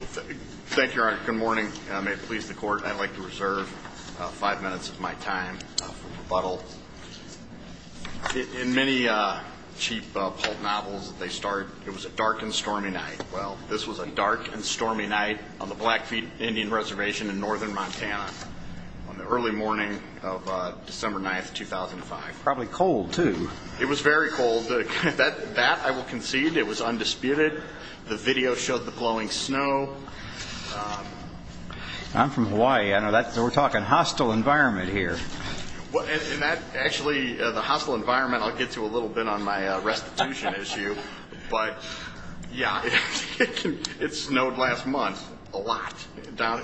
Thank you, Your Honor. Good morning. May it please the Court, I'd like to reserve five minutes of my time for rebuttal. In many cheap pulp novels that they start, it was a dark and stormy night. Well, this was a dark and stormy night on the Blackfeet Indian Reservation in northern Montana on the early morning of December 9, 2005. Probably cold, too. It was very cold. That, I will concede, it was undisputed. The video showed the blowing snow. I'm from Hawaii. We're talking hostile environment here. Actually, the hostile environment I'll get to a little bit on my restitution issue. But, yeah, it snowed last month a lot,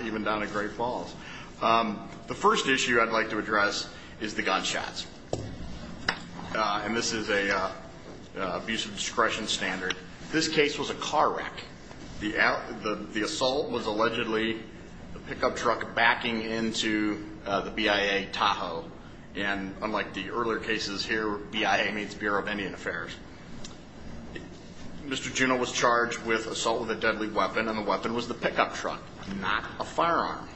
even down at Great Falls. The first issue I'd like to address is the gunshots. And this is an abuse of discretion standard. This case was a car wreck. The assault was allegedly a pickup truck backing into the BIA Tahoe. And unlike the earlier cases here, BIA means Bureau of Indian Affairs. Mr. Juneau was charged with assault with a deadly weapon, and the weapon was the pickup truck, not a firearm.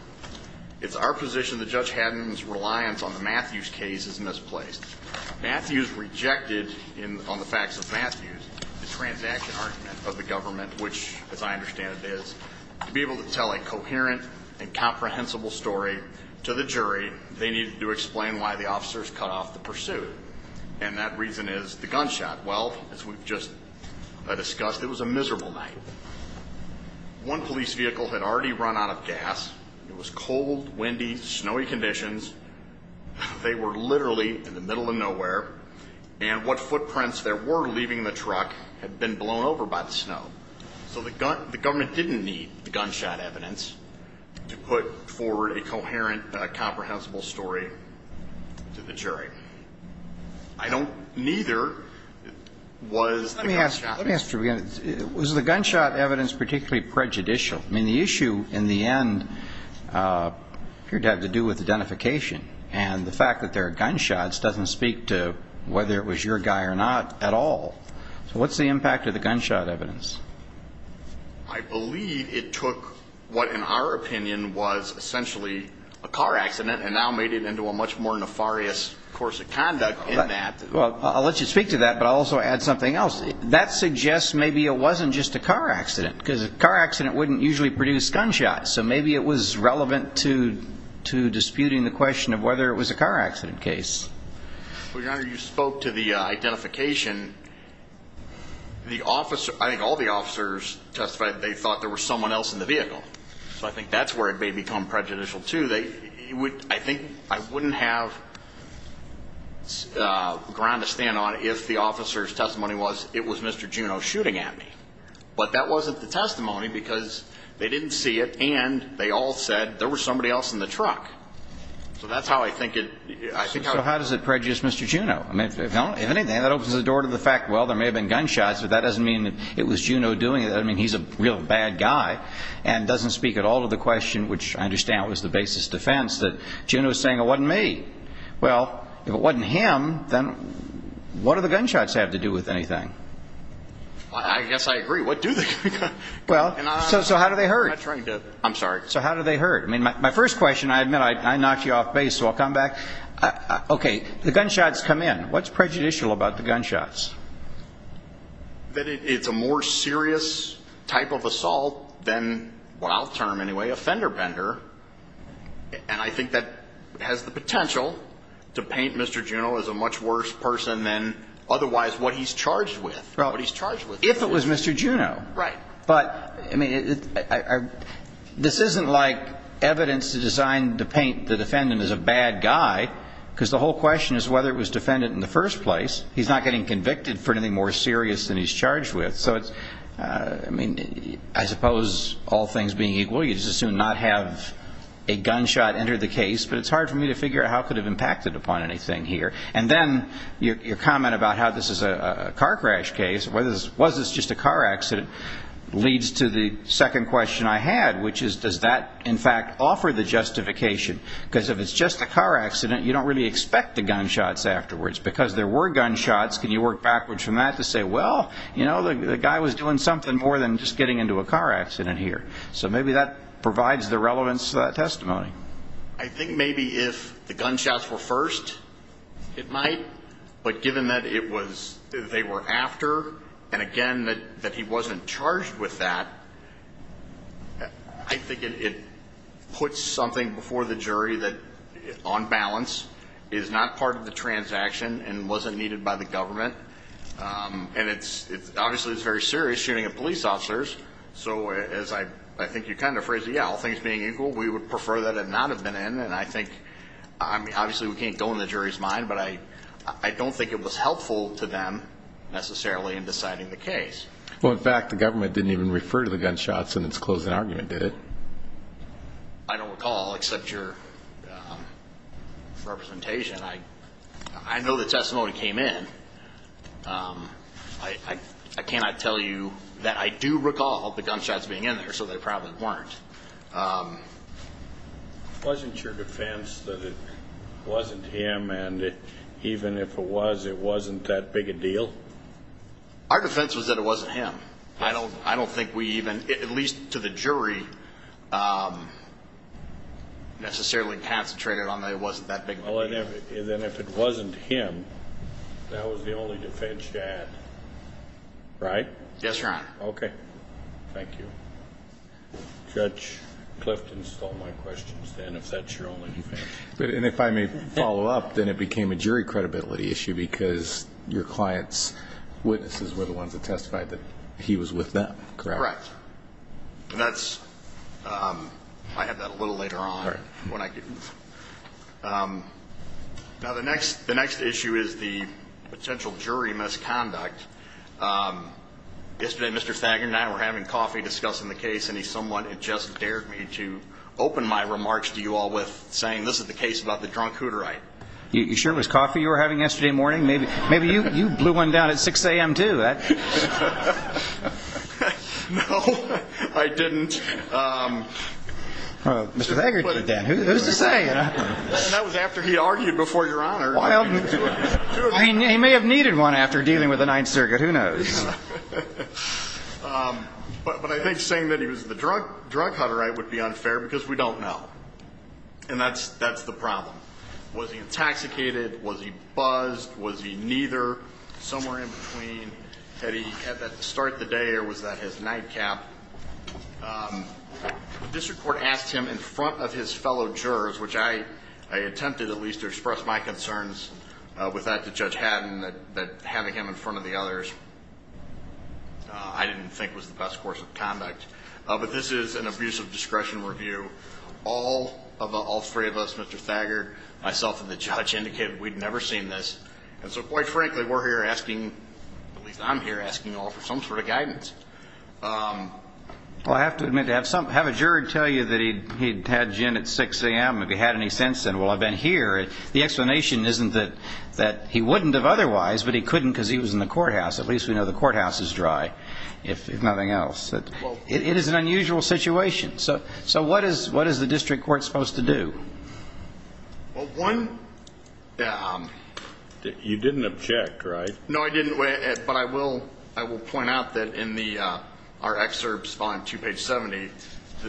It's our position that Judge Haddon's reliance on the Matthews case is misplaced. Matthews rejected, on the facts of Matthews, the transaction argument of the government, which, as I understand it is, to be able to tell a coherent and comprehensible story to the jury, they needed to explain why the officers cut off the pursuit. And that reason is the gunshot. Well, as we've just discussed, it was a miserable night. One police vehicle had already run out of gas. It was cold, windy, snowy conditions. They were literally in the middle of nowhere. And what footprints there were leaving the truck had been blown over by the snow. So the government didn't need the gunshot evidence to put forward a coherent, comprehensible story to the jury. I don't, neither was the gunshot. Let me ask you again. Was the gunshot evidence particularly prejudicial? I mean, the issue, in the end, appeared to have to do with identification. And the fact that there are gunshots doesn't speak to whether it was your guy or not at all. So what's the impact of the gunshot evidence? I believe it took what, in our opinion, was essentially a car accident and now made it into a much more nefarious course of conduct in that. Well, I'll let you speak to that, but I'll also add something else. That suggests maybe it wasn't just a car accident, because a car accident wouldn't usually produce gunshots. So maybe it was relevant to disputing the question of whether it was a car accident case. Well, Your Honor, you spoke to the identification. I think all the officers testified they thought there was someone else in the vehicle. So I think that's where it may become prejudicial, too. I think I wouldn't have ground to stand on if the officer's testimony was, it was Mr. Juneau shooting at me. But that wasn't the testimony because they didn't see it, and they all said there was somebody else in the truck. So that's how I think it. So how does it prejudice Mr. Juneau? If anything, that opens the door to the fact, well, there may have been gunshots, but that doesn't mean it was Juneau doing it. That doesn't mean he's a real bad guy. And it doesn't speak at all to the question, which I understand was the basis of defense, that Juneau was saying it wasn't me. Well, if it wasn't him, then what do the gunshots have to do with anything? I guess I agree. What do the gunshots have to do with anything? So how do they hurt? I'm sorry? So how do they hurt? I mean, my first question, I admit I knocked you off base, so I'll come back. Okay, the gunshots come in. What's prejudicial about the gunshots? That it's a more serious type of assault than, well, I'll term it anyway, a fender bender. And I think that has the potential to paint Mr. Juneau as a much worse person than otherwise what he's charged with. If it was Mr. Juneau. Right. But, I mean, this isn't like evidence to design to paint the defendant as a bad guy, because the whole question is whether it was defendant in the first place. He's not getting convicted for anything more serious than he's charged with. So, I mean, I suppose all things being equal, you just assume not have a gunshot enter the case. But it's hard for me to figure out how it could have impacted upon anything here. And then your comment about how this is a car crash case, was this just a car accident, leads to the second question I had, which is does that, in fact, offer the justification? Because if it's just a car accident, you don't really expect the gunshots afterwards. Because there were gunshots, can you work backwards from that to say, well, you know, the guy was doing something more than just getting into a car accident here. So maybe that provides the relevance to that testimony. I think maybe if the gunshots were first, it might. But given that they were after, and, again, that he wasn't charged with that, I think it puts something before the jury that, on balance, is not part of the transaction and wasn't needed by the government. And, obviously, it's a very serious shooting of police officers. So as I think you kind of phrased it, yeah, all things being equal, we would prefer that it not have been in. And I think, obviously, we can't go in the jury's mind, but I don't think it was helpful to them necessarily in deciding the case. Well, in fact, the government didn't even refer to the gunshots in its closing argument, did it? I don't recall, except your representation. I know the testimony came in. I cannot tell you that I do recall the gunshots being in there, so they probably weren't. Wasn't your defense that it wasn't him, and even if it was, it wasn't that big a deal? Our defense was that it wasn't him. I don't think we even, at least to the jury, necessarily concentrated on that it wasn't that big a deal. Well, then if it wasn't him, that was the only defense you had, right? Yes, Your Honor. Okay. Thank you. Judge Clifton stole my questions then, if that's your only defense. And if I may follow up, then it became a jury credibility issue because your client's witnesses were the ones that testified that he was with them, correct? Correct. And that's, I have that a little later on. All right. Now, the next issue is the potential jury misconduct. Yesterday, Mr. Thager and I were having coffee discussing the case, and he somewhat just dared me to open my remarks to you all with saying, this is the case about the drunk Hooterite. You sure it was coffee you were having yesterday morning? Maybe you blew one down at 6 a.m. too. No, I didn't. Mr. Thager did that. Who's to say? That was after he argued before Your Honor. He may have needed one after dealing with the Ninth Circuit. Who knows? But I think saying that he was the drug Hooterite would be unfair because we don't know. And that's the problem. Was he intoxicated? Was he buzzed? Was he neither? Somewhere in between. Had he had that start of the day or was that his nightcap? The district court asked him in front of his fellow jurors, which I attempted at least to express my concerns with that to Judge Hatton, that having him in front of the others I didn't think was the best course of conduct. But this is an abusive discretion review. All three of us, Mr. Thager, myself, and the judge indicated we'd never seen this. And so, quite frankly, we're here asking, at least I'm here asking, to offer some sort of guidance. Well, I have to admit to have a juror tell you that he'd had gin at 6 a.m. if he had any sense, and, well, I've been here. The explanation isn't that he wouldn't have otherwise, but he couldn't because he was in the courthouse. At least we know the courthouse is dry, if nothing else. It is an unusual situation. So what is the district court supposed to do? Well, one ---- You didn't object, right? No, I didn't. But I will point out that in our excerpts on 2 page 70,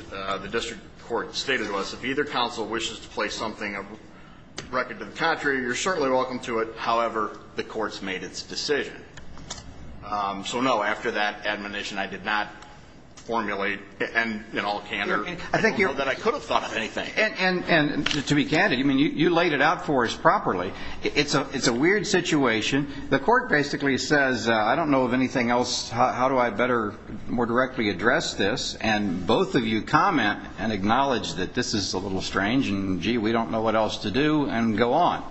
the district court stated to us, if either counsel wishes to place something of record to the contrary, you're certainly welcome to it. However, the court's made its decision. So, no, after that admonition, I did not formulate in all candor that I could have thought of anything. And to be candid, you laid it out for us properly. It's a weird situation. The court basically says, I don't know of anything else. How do I better more directly address this? And both of you comment and acknowledge that this is a little strange, and, gee, we don't know what else to do, and go on.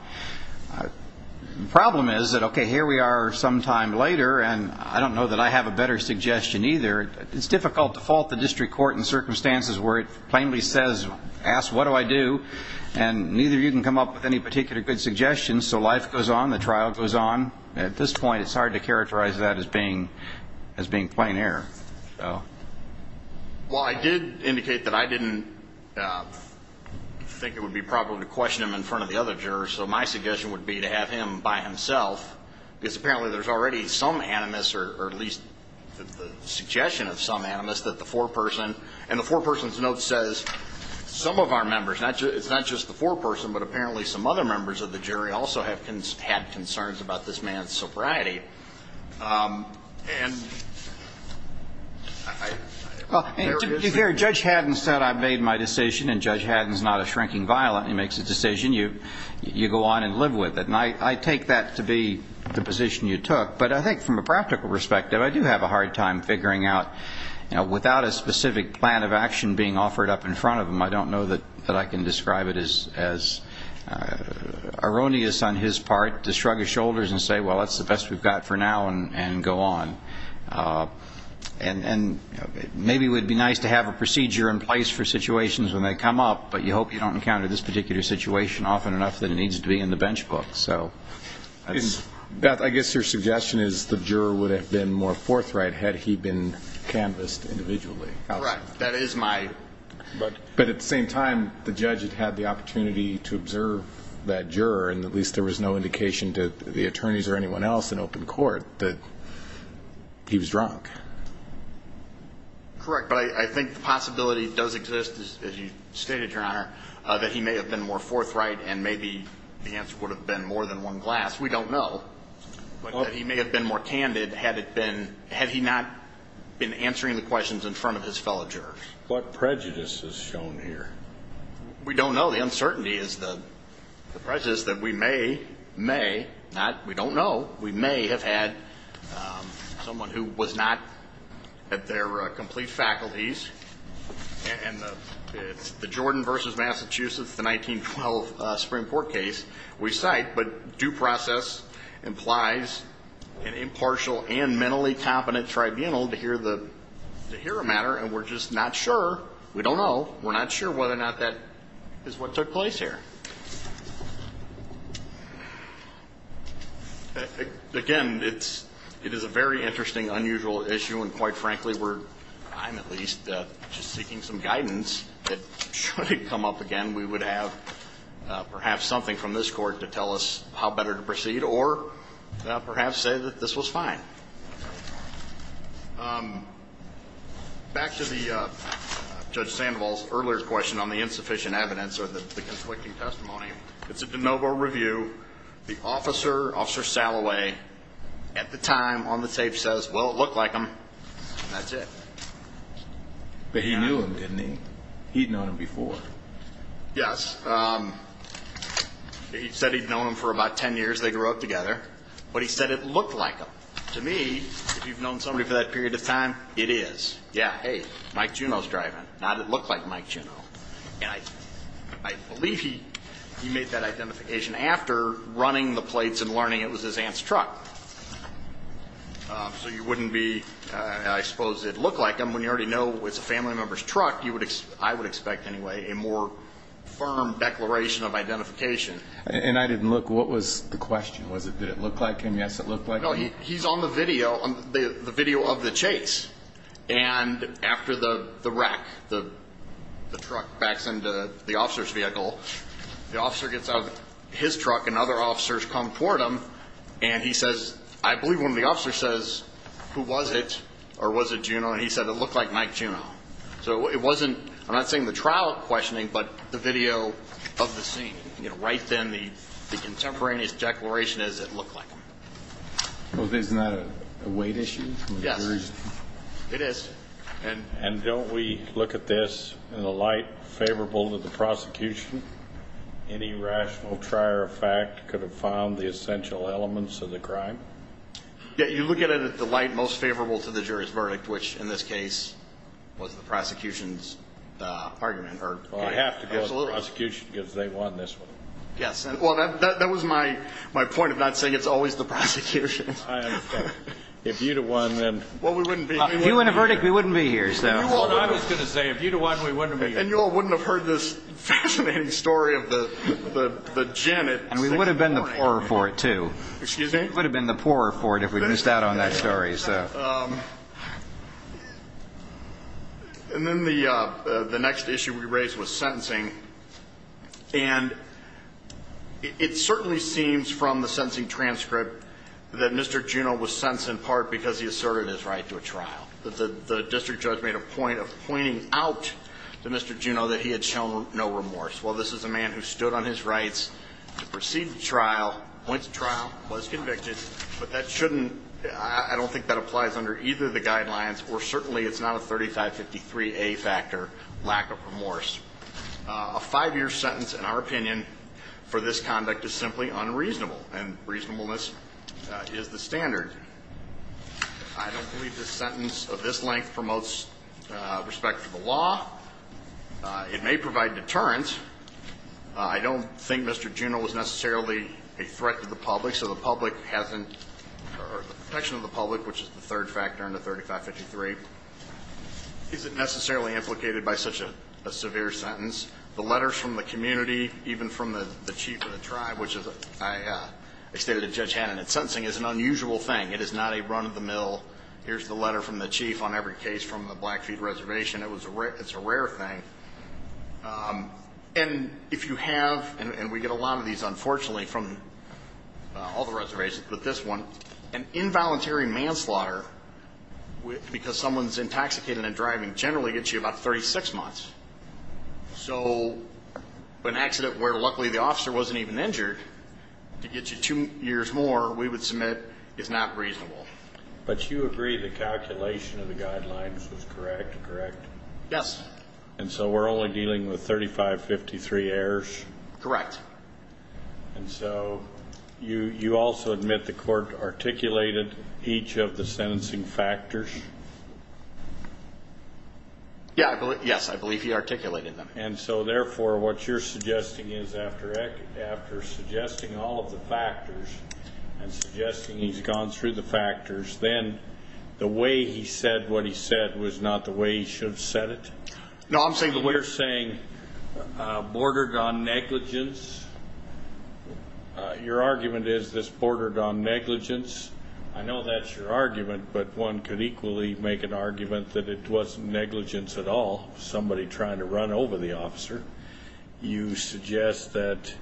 The problem is that, okay, here we are sometime later, and I don't know that I have a better suggestion either. It's difficult to fault the district court in circumstances where it plainly says, ask, what do I do? And neither of you can come up with any particular good suggestions, so life goes on, the trial goes on. At this point, it's hard to characterize that as being plain error. Well, I did indicate that I didn't think it would be probable to question him in front of the other jurors, so my suggestion would be to have him by himself, because apparently there's already some animus, or at least the suggestion of some animus, that the foreperson, and the foreperson's note says some of our members, it's not just the foreperson, but apparently some other members of the jury also have had concerns about this man's sobriety. And there is the jury. Well, to be fair, Judge Haddon said I made my decision, and Judge Haddon is not a shrinking violent. He makes a decision. You go on and live with it. And I take that to be the position you took. But I think from a practical perspective, I do have a hard time figuring out, without a specific plan of action being offered up in front of him, I don't know that I can describe it as erroneous on his part to shrug his shoulders and say, well, that's the best we've got for now, and go on. And maybe it would be nice to have a procedure in place for situations when they come up, but you hope you don't encounter this particular situation often enough that it needs to be in the bench book. Beth, I guess your suggestion is the juror would have been more forthright had he been canvassed individually. Correct. But at the same time, the judge had had the opportunity to observe that juror, and at least there was no indication to the attorneys or anyone else in open court that he was drunk. Correct. But I think the possibility does exist, as you stated, Your Honor, that he may have been more forthright, and maybe the answer would have been more than one glass. We don't know. But he may have been more candid had he not been answering the questions in front of his fellow jurors. What prejudice is shown here? We don't know. The uncertainty is the prejudice that we may, may not, we don't know, we may have had someone who was not at their complete faculties, and it's the Jordan versus Massachusetts, the 1912 Supreme Court case we cite, but due process implies an impartial and mentally competent tribunal to hear the matter, and we're just not sure. We don't know. We're not sure whether or not that is what took place here. Again, it is a very interesting, unusual issue, and quite frankly we're, I'm at least just seeking some guidance that should it come up again, we would have perhaps something from this court to tell us how better to proceed or perhaps say that this was fine. Back to the Judge Sandoval's earlier question on the insufficient evidence or the conflicting testimony. It's a de novo review. The officer, Officer Salloway, at the time on the tape says, well, it looked like him, and that's it. But he knew him, didn't he? He'd known him before. Yes. He said he'd known him for about ten years. They grew up together. But he said it looked like him. To me, if you've known somebody for that period of time, it is. Yeah. Hey, Mike Juneau's driving. Now did it look like Mike Juneau? And I believe he made that identification after running the plates and learning it was his aunt's truck. So you wouldn't be, I suppose it looked like him. When you already know it was a family member's truck, I would expect anyway a more firm declaration of identification. And I didn't look. Was it did it look like him? Yes, it looked like him. No, he's on the video of the chase. And after the wreck, the truck backs into the officer's vehicle, the officer gets out of his truck and other officers come toward him, and he says, I believe one of the officers says, who was it, or was it Juneau? And he said it looked like Mike Juneau. So it wasn't, I'm not saying the trial questioning, but the video of the scene. You know, right then the contemporaneous declaration is it looked like him. Well, isn't that a weight issue? Yes. It is. And don't we look at this in the light favorable to the prosecution? Any rational trier of fact could have found the essential elements of the crime? Yeah, you look at it in the light most favorable to the jury's verdict, which in this case was the prosecution's argument. Well, I have to go with the prosecution because they won this one. Yes. Well, that was my point of not saying it's always the prosecution. I understand. If you'd have won, then. Well, we wouldn't be here. If you win a verdict, we wouldn't be here. I was going to say, if you'd have won, we wouldn't be here. And you all wouldn't have heard this fascinating story of the genet. And we would have been the poorer for it, too. Excuse me? We would have been the poorer for it if we missed out on that story. And then the next issue we raised was sentencing. And it certainly seems from the sentencing transcript that Mr. Juneau was sentenced in part because he asserted his right to a trial. The district judge made a point of pointing out to Mr. Juneau that he had shown no remorse. Well, this is a man who stood on his rights to proceed with the trial, went to trial, was convicted, but that shouldn't – I don't think that's applies under either of the guidelines, or certainly it's not a 3553A factor, lack of remorse. A five-year sentence, in our opinion, for this conduct is simply unreasonable, and reasonableness is the standard. I don't believe the sentence of this length promotes respect for the law. It may provide deterrence. I don't think Mr. Juneau was necessarily a threat to the public, so the public hasn't – or the protection of the public, which is the third factor in the 3553, isn't necessarily implicated by such a severe sentence. The letters from the community, even from the chief of the tribe, which I stated to Judge Hannon, that sentencing is an unusual thing. It is not a run-of-the-mill, here's the letter from the chief on every case from the Blackfeet Reservation. It's a rare thing. And if you have – and we get a lot of these, unfortunately, from all the reservations, but this one, an involuntary manslaughter because someone's intoxicated and driving generally gets you about 36 months. So an accident where luckily the officer wasn't even injured to get you two years more, we would submit is not reasonable. But you agree the calculation of the guidelines was correct, correct? Yes. And so we're only dealing with 3553 errors? Correct. And so you also admit the court articulated each of the sentencing factors? Yes, I believe he articulated them. And so, therefore, what you're suggesting is after suggesting all of the factors and suggesting he's gone through the factors, then the way he said what he said was not the way he should have said it? No, I'm saying the way. You're saying bordered on negligence. Your argument is this bordered on negligence. I know that's your argument, but one could equally make an argument that it wasn't negligence at all, somebody trying to run over the officer. You suggest that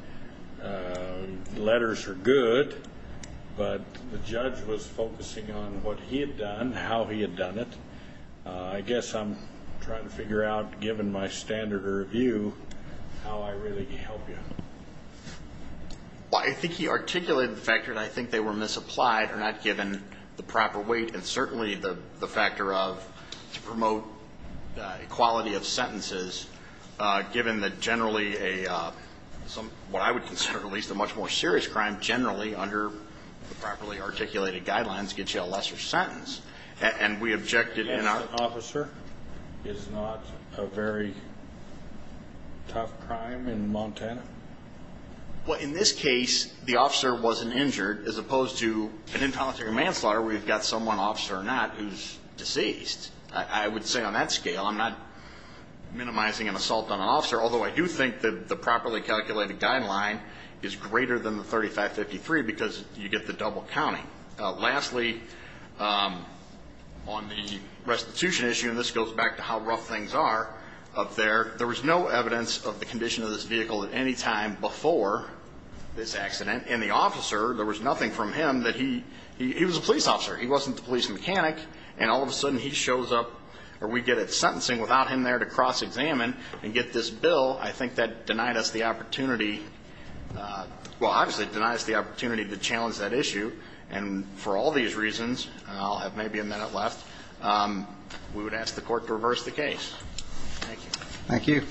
letters are good, but the judge was focusing on what he had done, how he had done it. I guess I'm trying to figure out, given my standard of review, how I really can help you. Well, I think he articulated the fact that I think they were misapplied or not given the proper weight and certainly the factor of promote equality of sentences given that generally what I would consider at least a much more serious crime generally under the properly articulated guidelines gets you a lesser sentence. And we objected in our... An innocent officer is not a very tough crime in Montana? Well, in this case, the officer wasn't injured as opposed to an infanticide manslaughter where you've got someone, officer or not, who's deceased. I would say on that scale I'm not minimizing an assault on an officer, although I do think that the properly calculated guideline is greater than the 3553 because you get the double counting. Lastly, on the restitution issue, and this goes back to how rough things are up there, there was no evidence of the condition of this vehicle at any time before this accident. And the officer, there was nothing from him that he... He was a police officer. He wasn't the police mechanic, and all of a sudden he shows up or we get it sentencing without him there to cross-examine and get this bill. I think that denied us the opportunity. Well, obviously it denied us the opportunity to challenge that issue, and for all these reasons, and I'll have maybe a minute left, we would ask the court to reverse the case. Thank you. Thank you.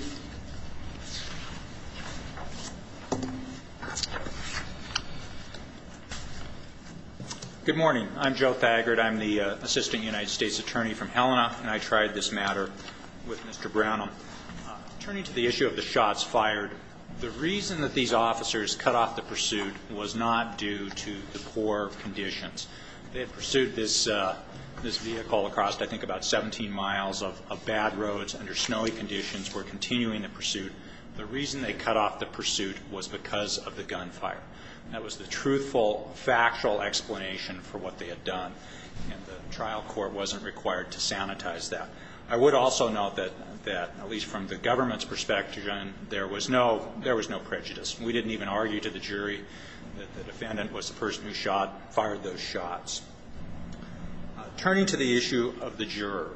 Good morning. I'm Joe Thagard. I'm the assistant United States attorney from Helena, and I tried this matter with Mr. Brown. Turning to the issue of the shots fired, the reason that these officers cut off the pursuit was not due to the poor conditions. They had pursued this vehicle across, I think, about 17 miles of bad roads under snowy conditions, were continuing the pursuit. The reason they cut off the pursuit was because of the gunfire. That was the truthful, factual explanation for what they had done, and the trial court wasn't required to sanitize that. I would also note that, at least from the government's perspective, there was no prejudice. We didn't even argue to the jury that the defendant was the person who fired those shots. Turning to the issue of the juror,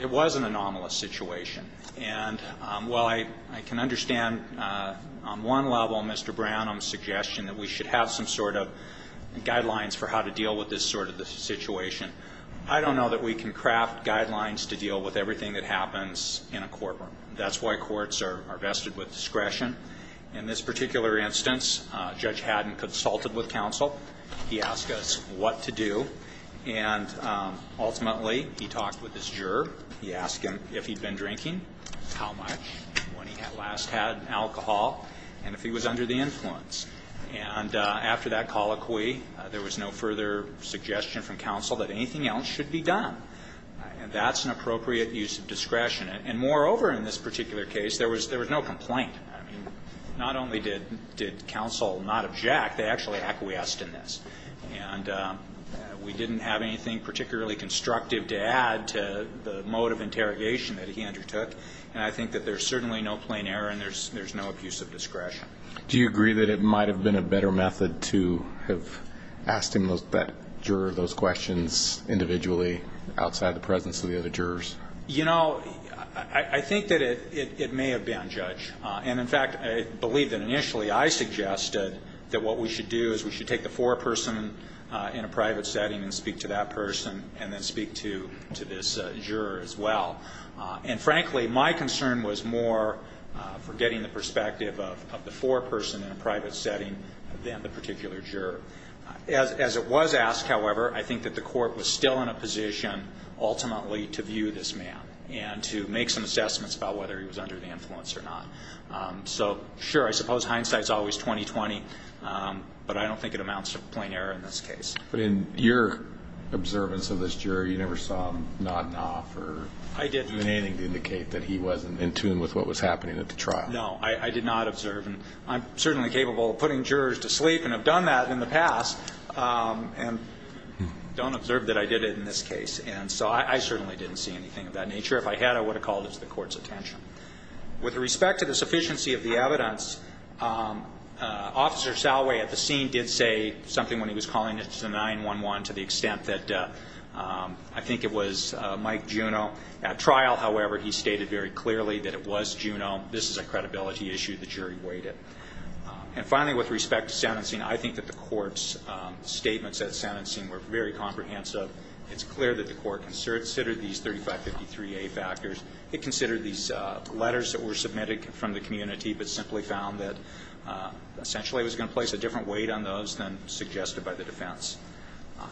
it was an anomalous situation, and while I can understand, on one level, Mr. Brown, on the suggestion that we should have some sort of guidelines for how to deal with this sort of situation, I don't know that we can craft guidelines to deal with everything that happens in a courtroom. That's why courts are vested with discretion. In this particular instance, Judge Haddon consulted with counsel. He asked us what to do, and ultimately he talked with his juror. He asked him if he'd been drinking, how much, when he last had alcohol, and if he was under the influence. And after that colloquy, there was no further suggestion from counsel that anything else should be done. And that's an appropriate use of discretion. And moreover, in this particular case, there was no complaint. I mean, not only did counsel not object, they actually acquiesced in this. And we didn't have anything particularly constructive to add to the mode of interrogation that he undertook. And I think that there's certainly no plain error and there's no abuse of discretion. Do you agree that it might have been a better method to have asked him, that juror, those questions individually outside the presence of the other jurors? You know, I think that it may have been, Judge. And in fact, I believe that initially I suggested that what we should do is we should take the foreperson in a private setting and speak to that person and then speak to this juror as well. And frankly, my concern was more for getting the perspective of the foreperson in a private setting than the particular juror. As it was asked, however, I think that the court was still in a position ultimately to view this man and to make some assessments about whether he was under the influence or not. So, sure, I suppose hindsight is always 20-20, but I don't think it amounts to plain error in this case. But in your observance of this juror, you never saw him nodding off or doing anything to indicate that he wasn't in tune with what was happening at the trial? No, I did not observe. And I'm certainly capable of putting jurors to sleep and have done that in the past and don't observe that I did it in this case. And so I certainly didn't see anything of that nature. If I had, I would have called it to the court's attention. With respect to the sufficiency of the evidence, Officer Salway at the scene did say something when he was calling it to 911 to the extent that I think it was Mike Juno. At trial, however, he stated very clearly that it was Juno. This is a credibility issue. The jury weighed it. And finally, with respect to sentencing, I think that the court's statements at sentencing were very comprehensive. It's clear that the court considered these 3553A factors. It considered these letters that were submitted from the community, but simply found that essentially it was going to place a different weight on those than suggested by the defense.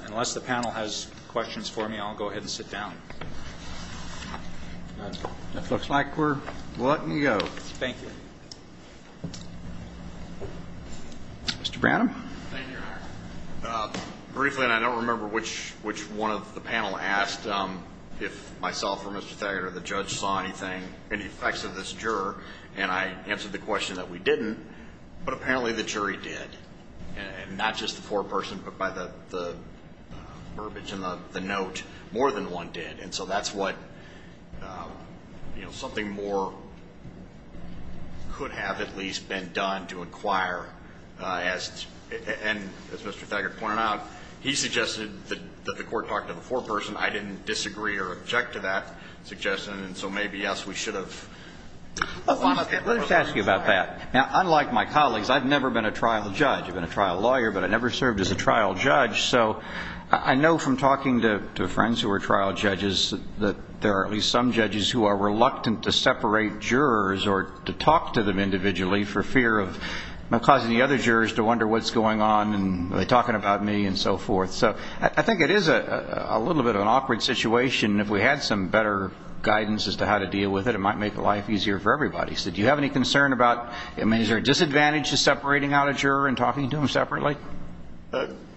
Unless the panel has questions for me, I'll go ahead and sit down. It looks like we're letting you go. Thank you. Mr. Branham? Thank you, Your Honor. Briefly, and I don't remember which one of the panel asked if myself or Mr. Thayer or the judge saw anything, any effects of this juror, and I answered the question that we didn't, but apparently the jury did. And not just the foreperson, but by the verbiage in the note, more than one did. And so that's what, you know, something more could have at least been done to inquire. And as Mr. Thayer pointed out, he suggested that the court talk to the foreperson. I didn't disagree or object to that suggestion, and so maybe, yes, we should have. Let me just ask you about that. Now, unlike my colleagues, I've never been a trial judge. I've been a trial lawyer, but I never served as a trial judge. So I know from talking to friends who are trial judges that there are at least some judges who are reluctant to separate jurors or to talk to them individually for fear of causing the other jurors to wonder what's going on and are they talking about me and so forth. So I think it is a little bit of an awkward situation. If we had some better guidance as to how to deal with it, it might make life easier for everybody. So do you have any concern about, I mean, is there a disadvantage to separating out a juror and talking to them separately?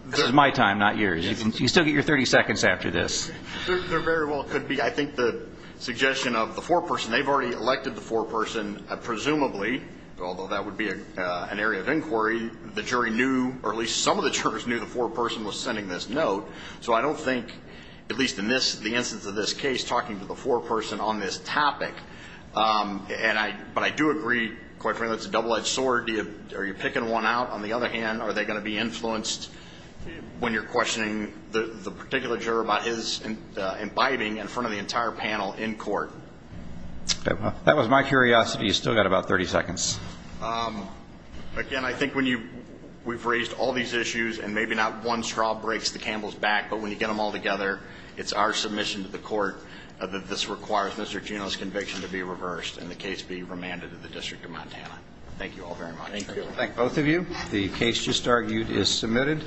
This is my time, not yours. You still get your 30 seconds after this. There very well could be. I think the suggestion of the foreperson, they've already elected the foreperson, presumably, although that would be an area of inquiry, the jury knew, or at least some of the jurors knew the foreperson was sending this note. So I don't think, at least in the instance of this case, talking to the foreperson on this topic. But I do agree, quite frankly, it's a double-edged sword. Are you picking one out? On the other hand, are they going to be influenced when you're questioning the particular juror about his imbibing in front of the entire panel in court? That was my curiosity. You've still got about 30 seconds. Again, I think when you've raised all these issues, and maybe not one straw breaks the camel's back, but when you get them all together, it's our submission to the court that this requires Mr. Gino's conviction to be reversed and the case be remanded to the District of Montana. Thank you all very much. Thank you. Thank both of you. The case just argued is submitted.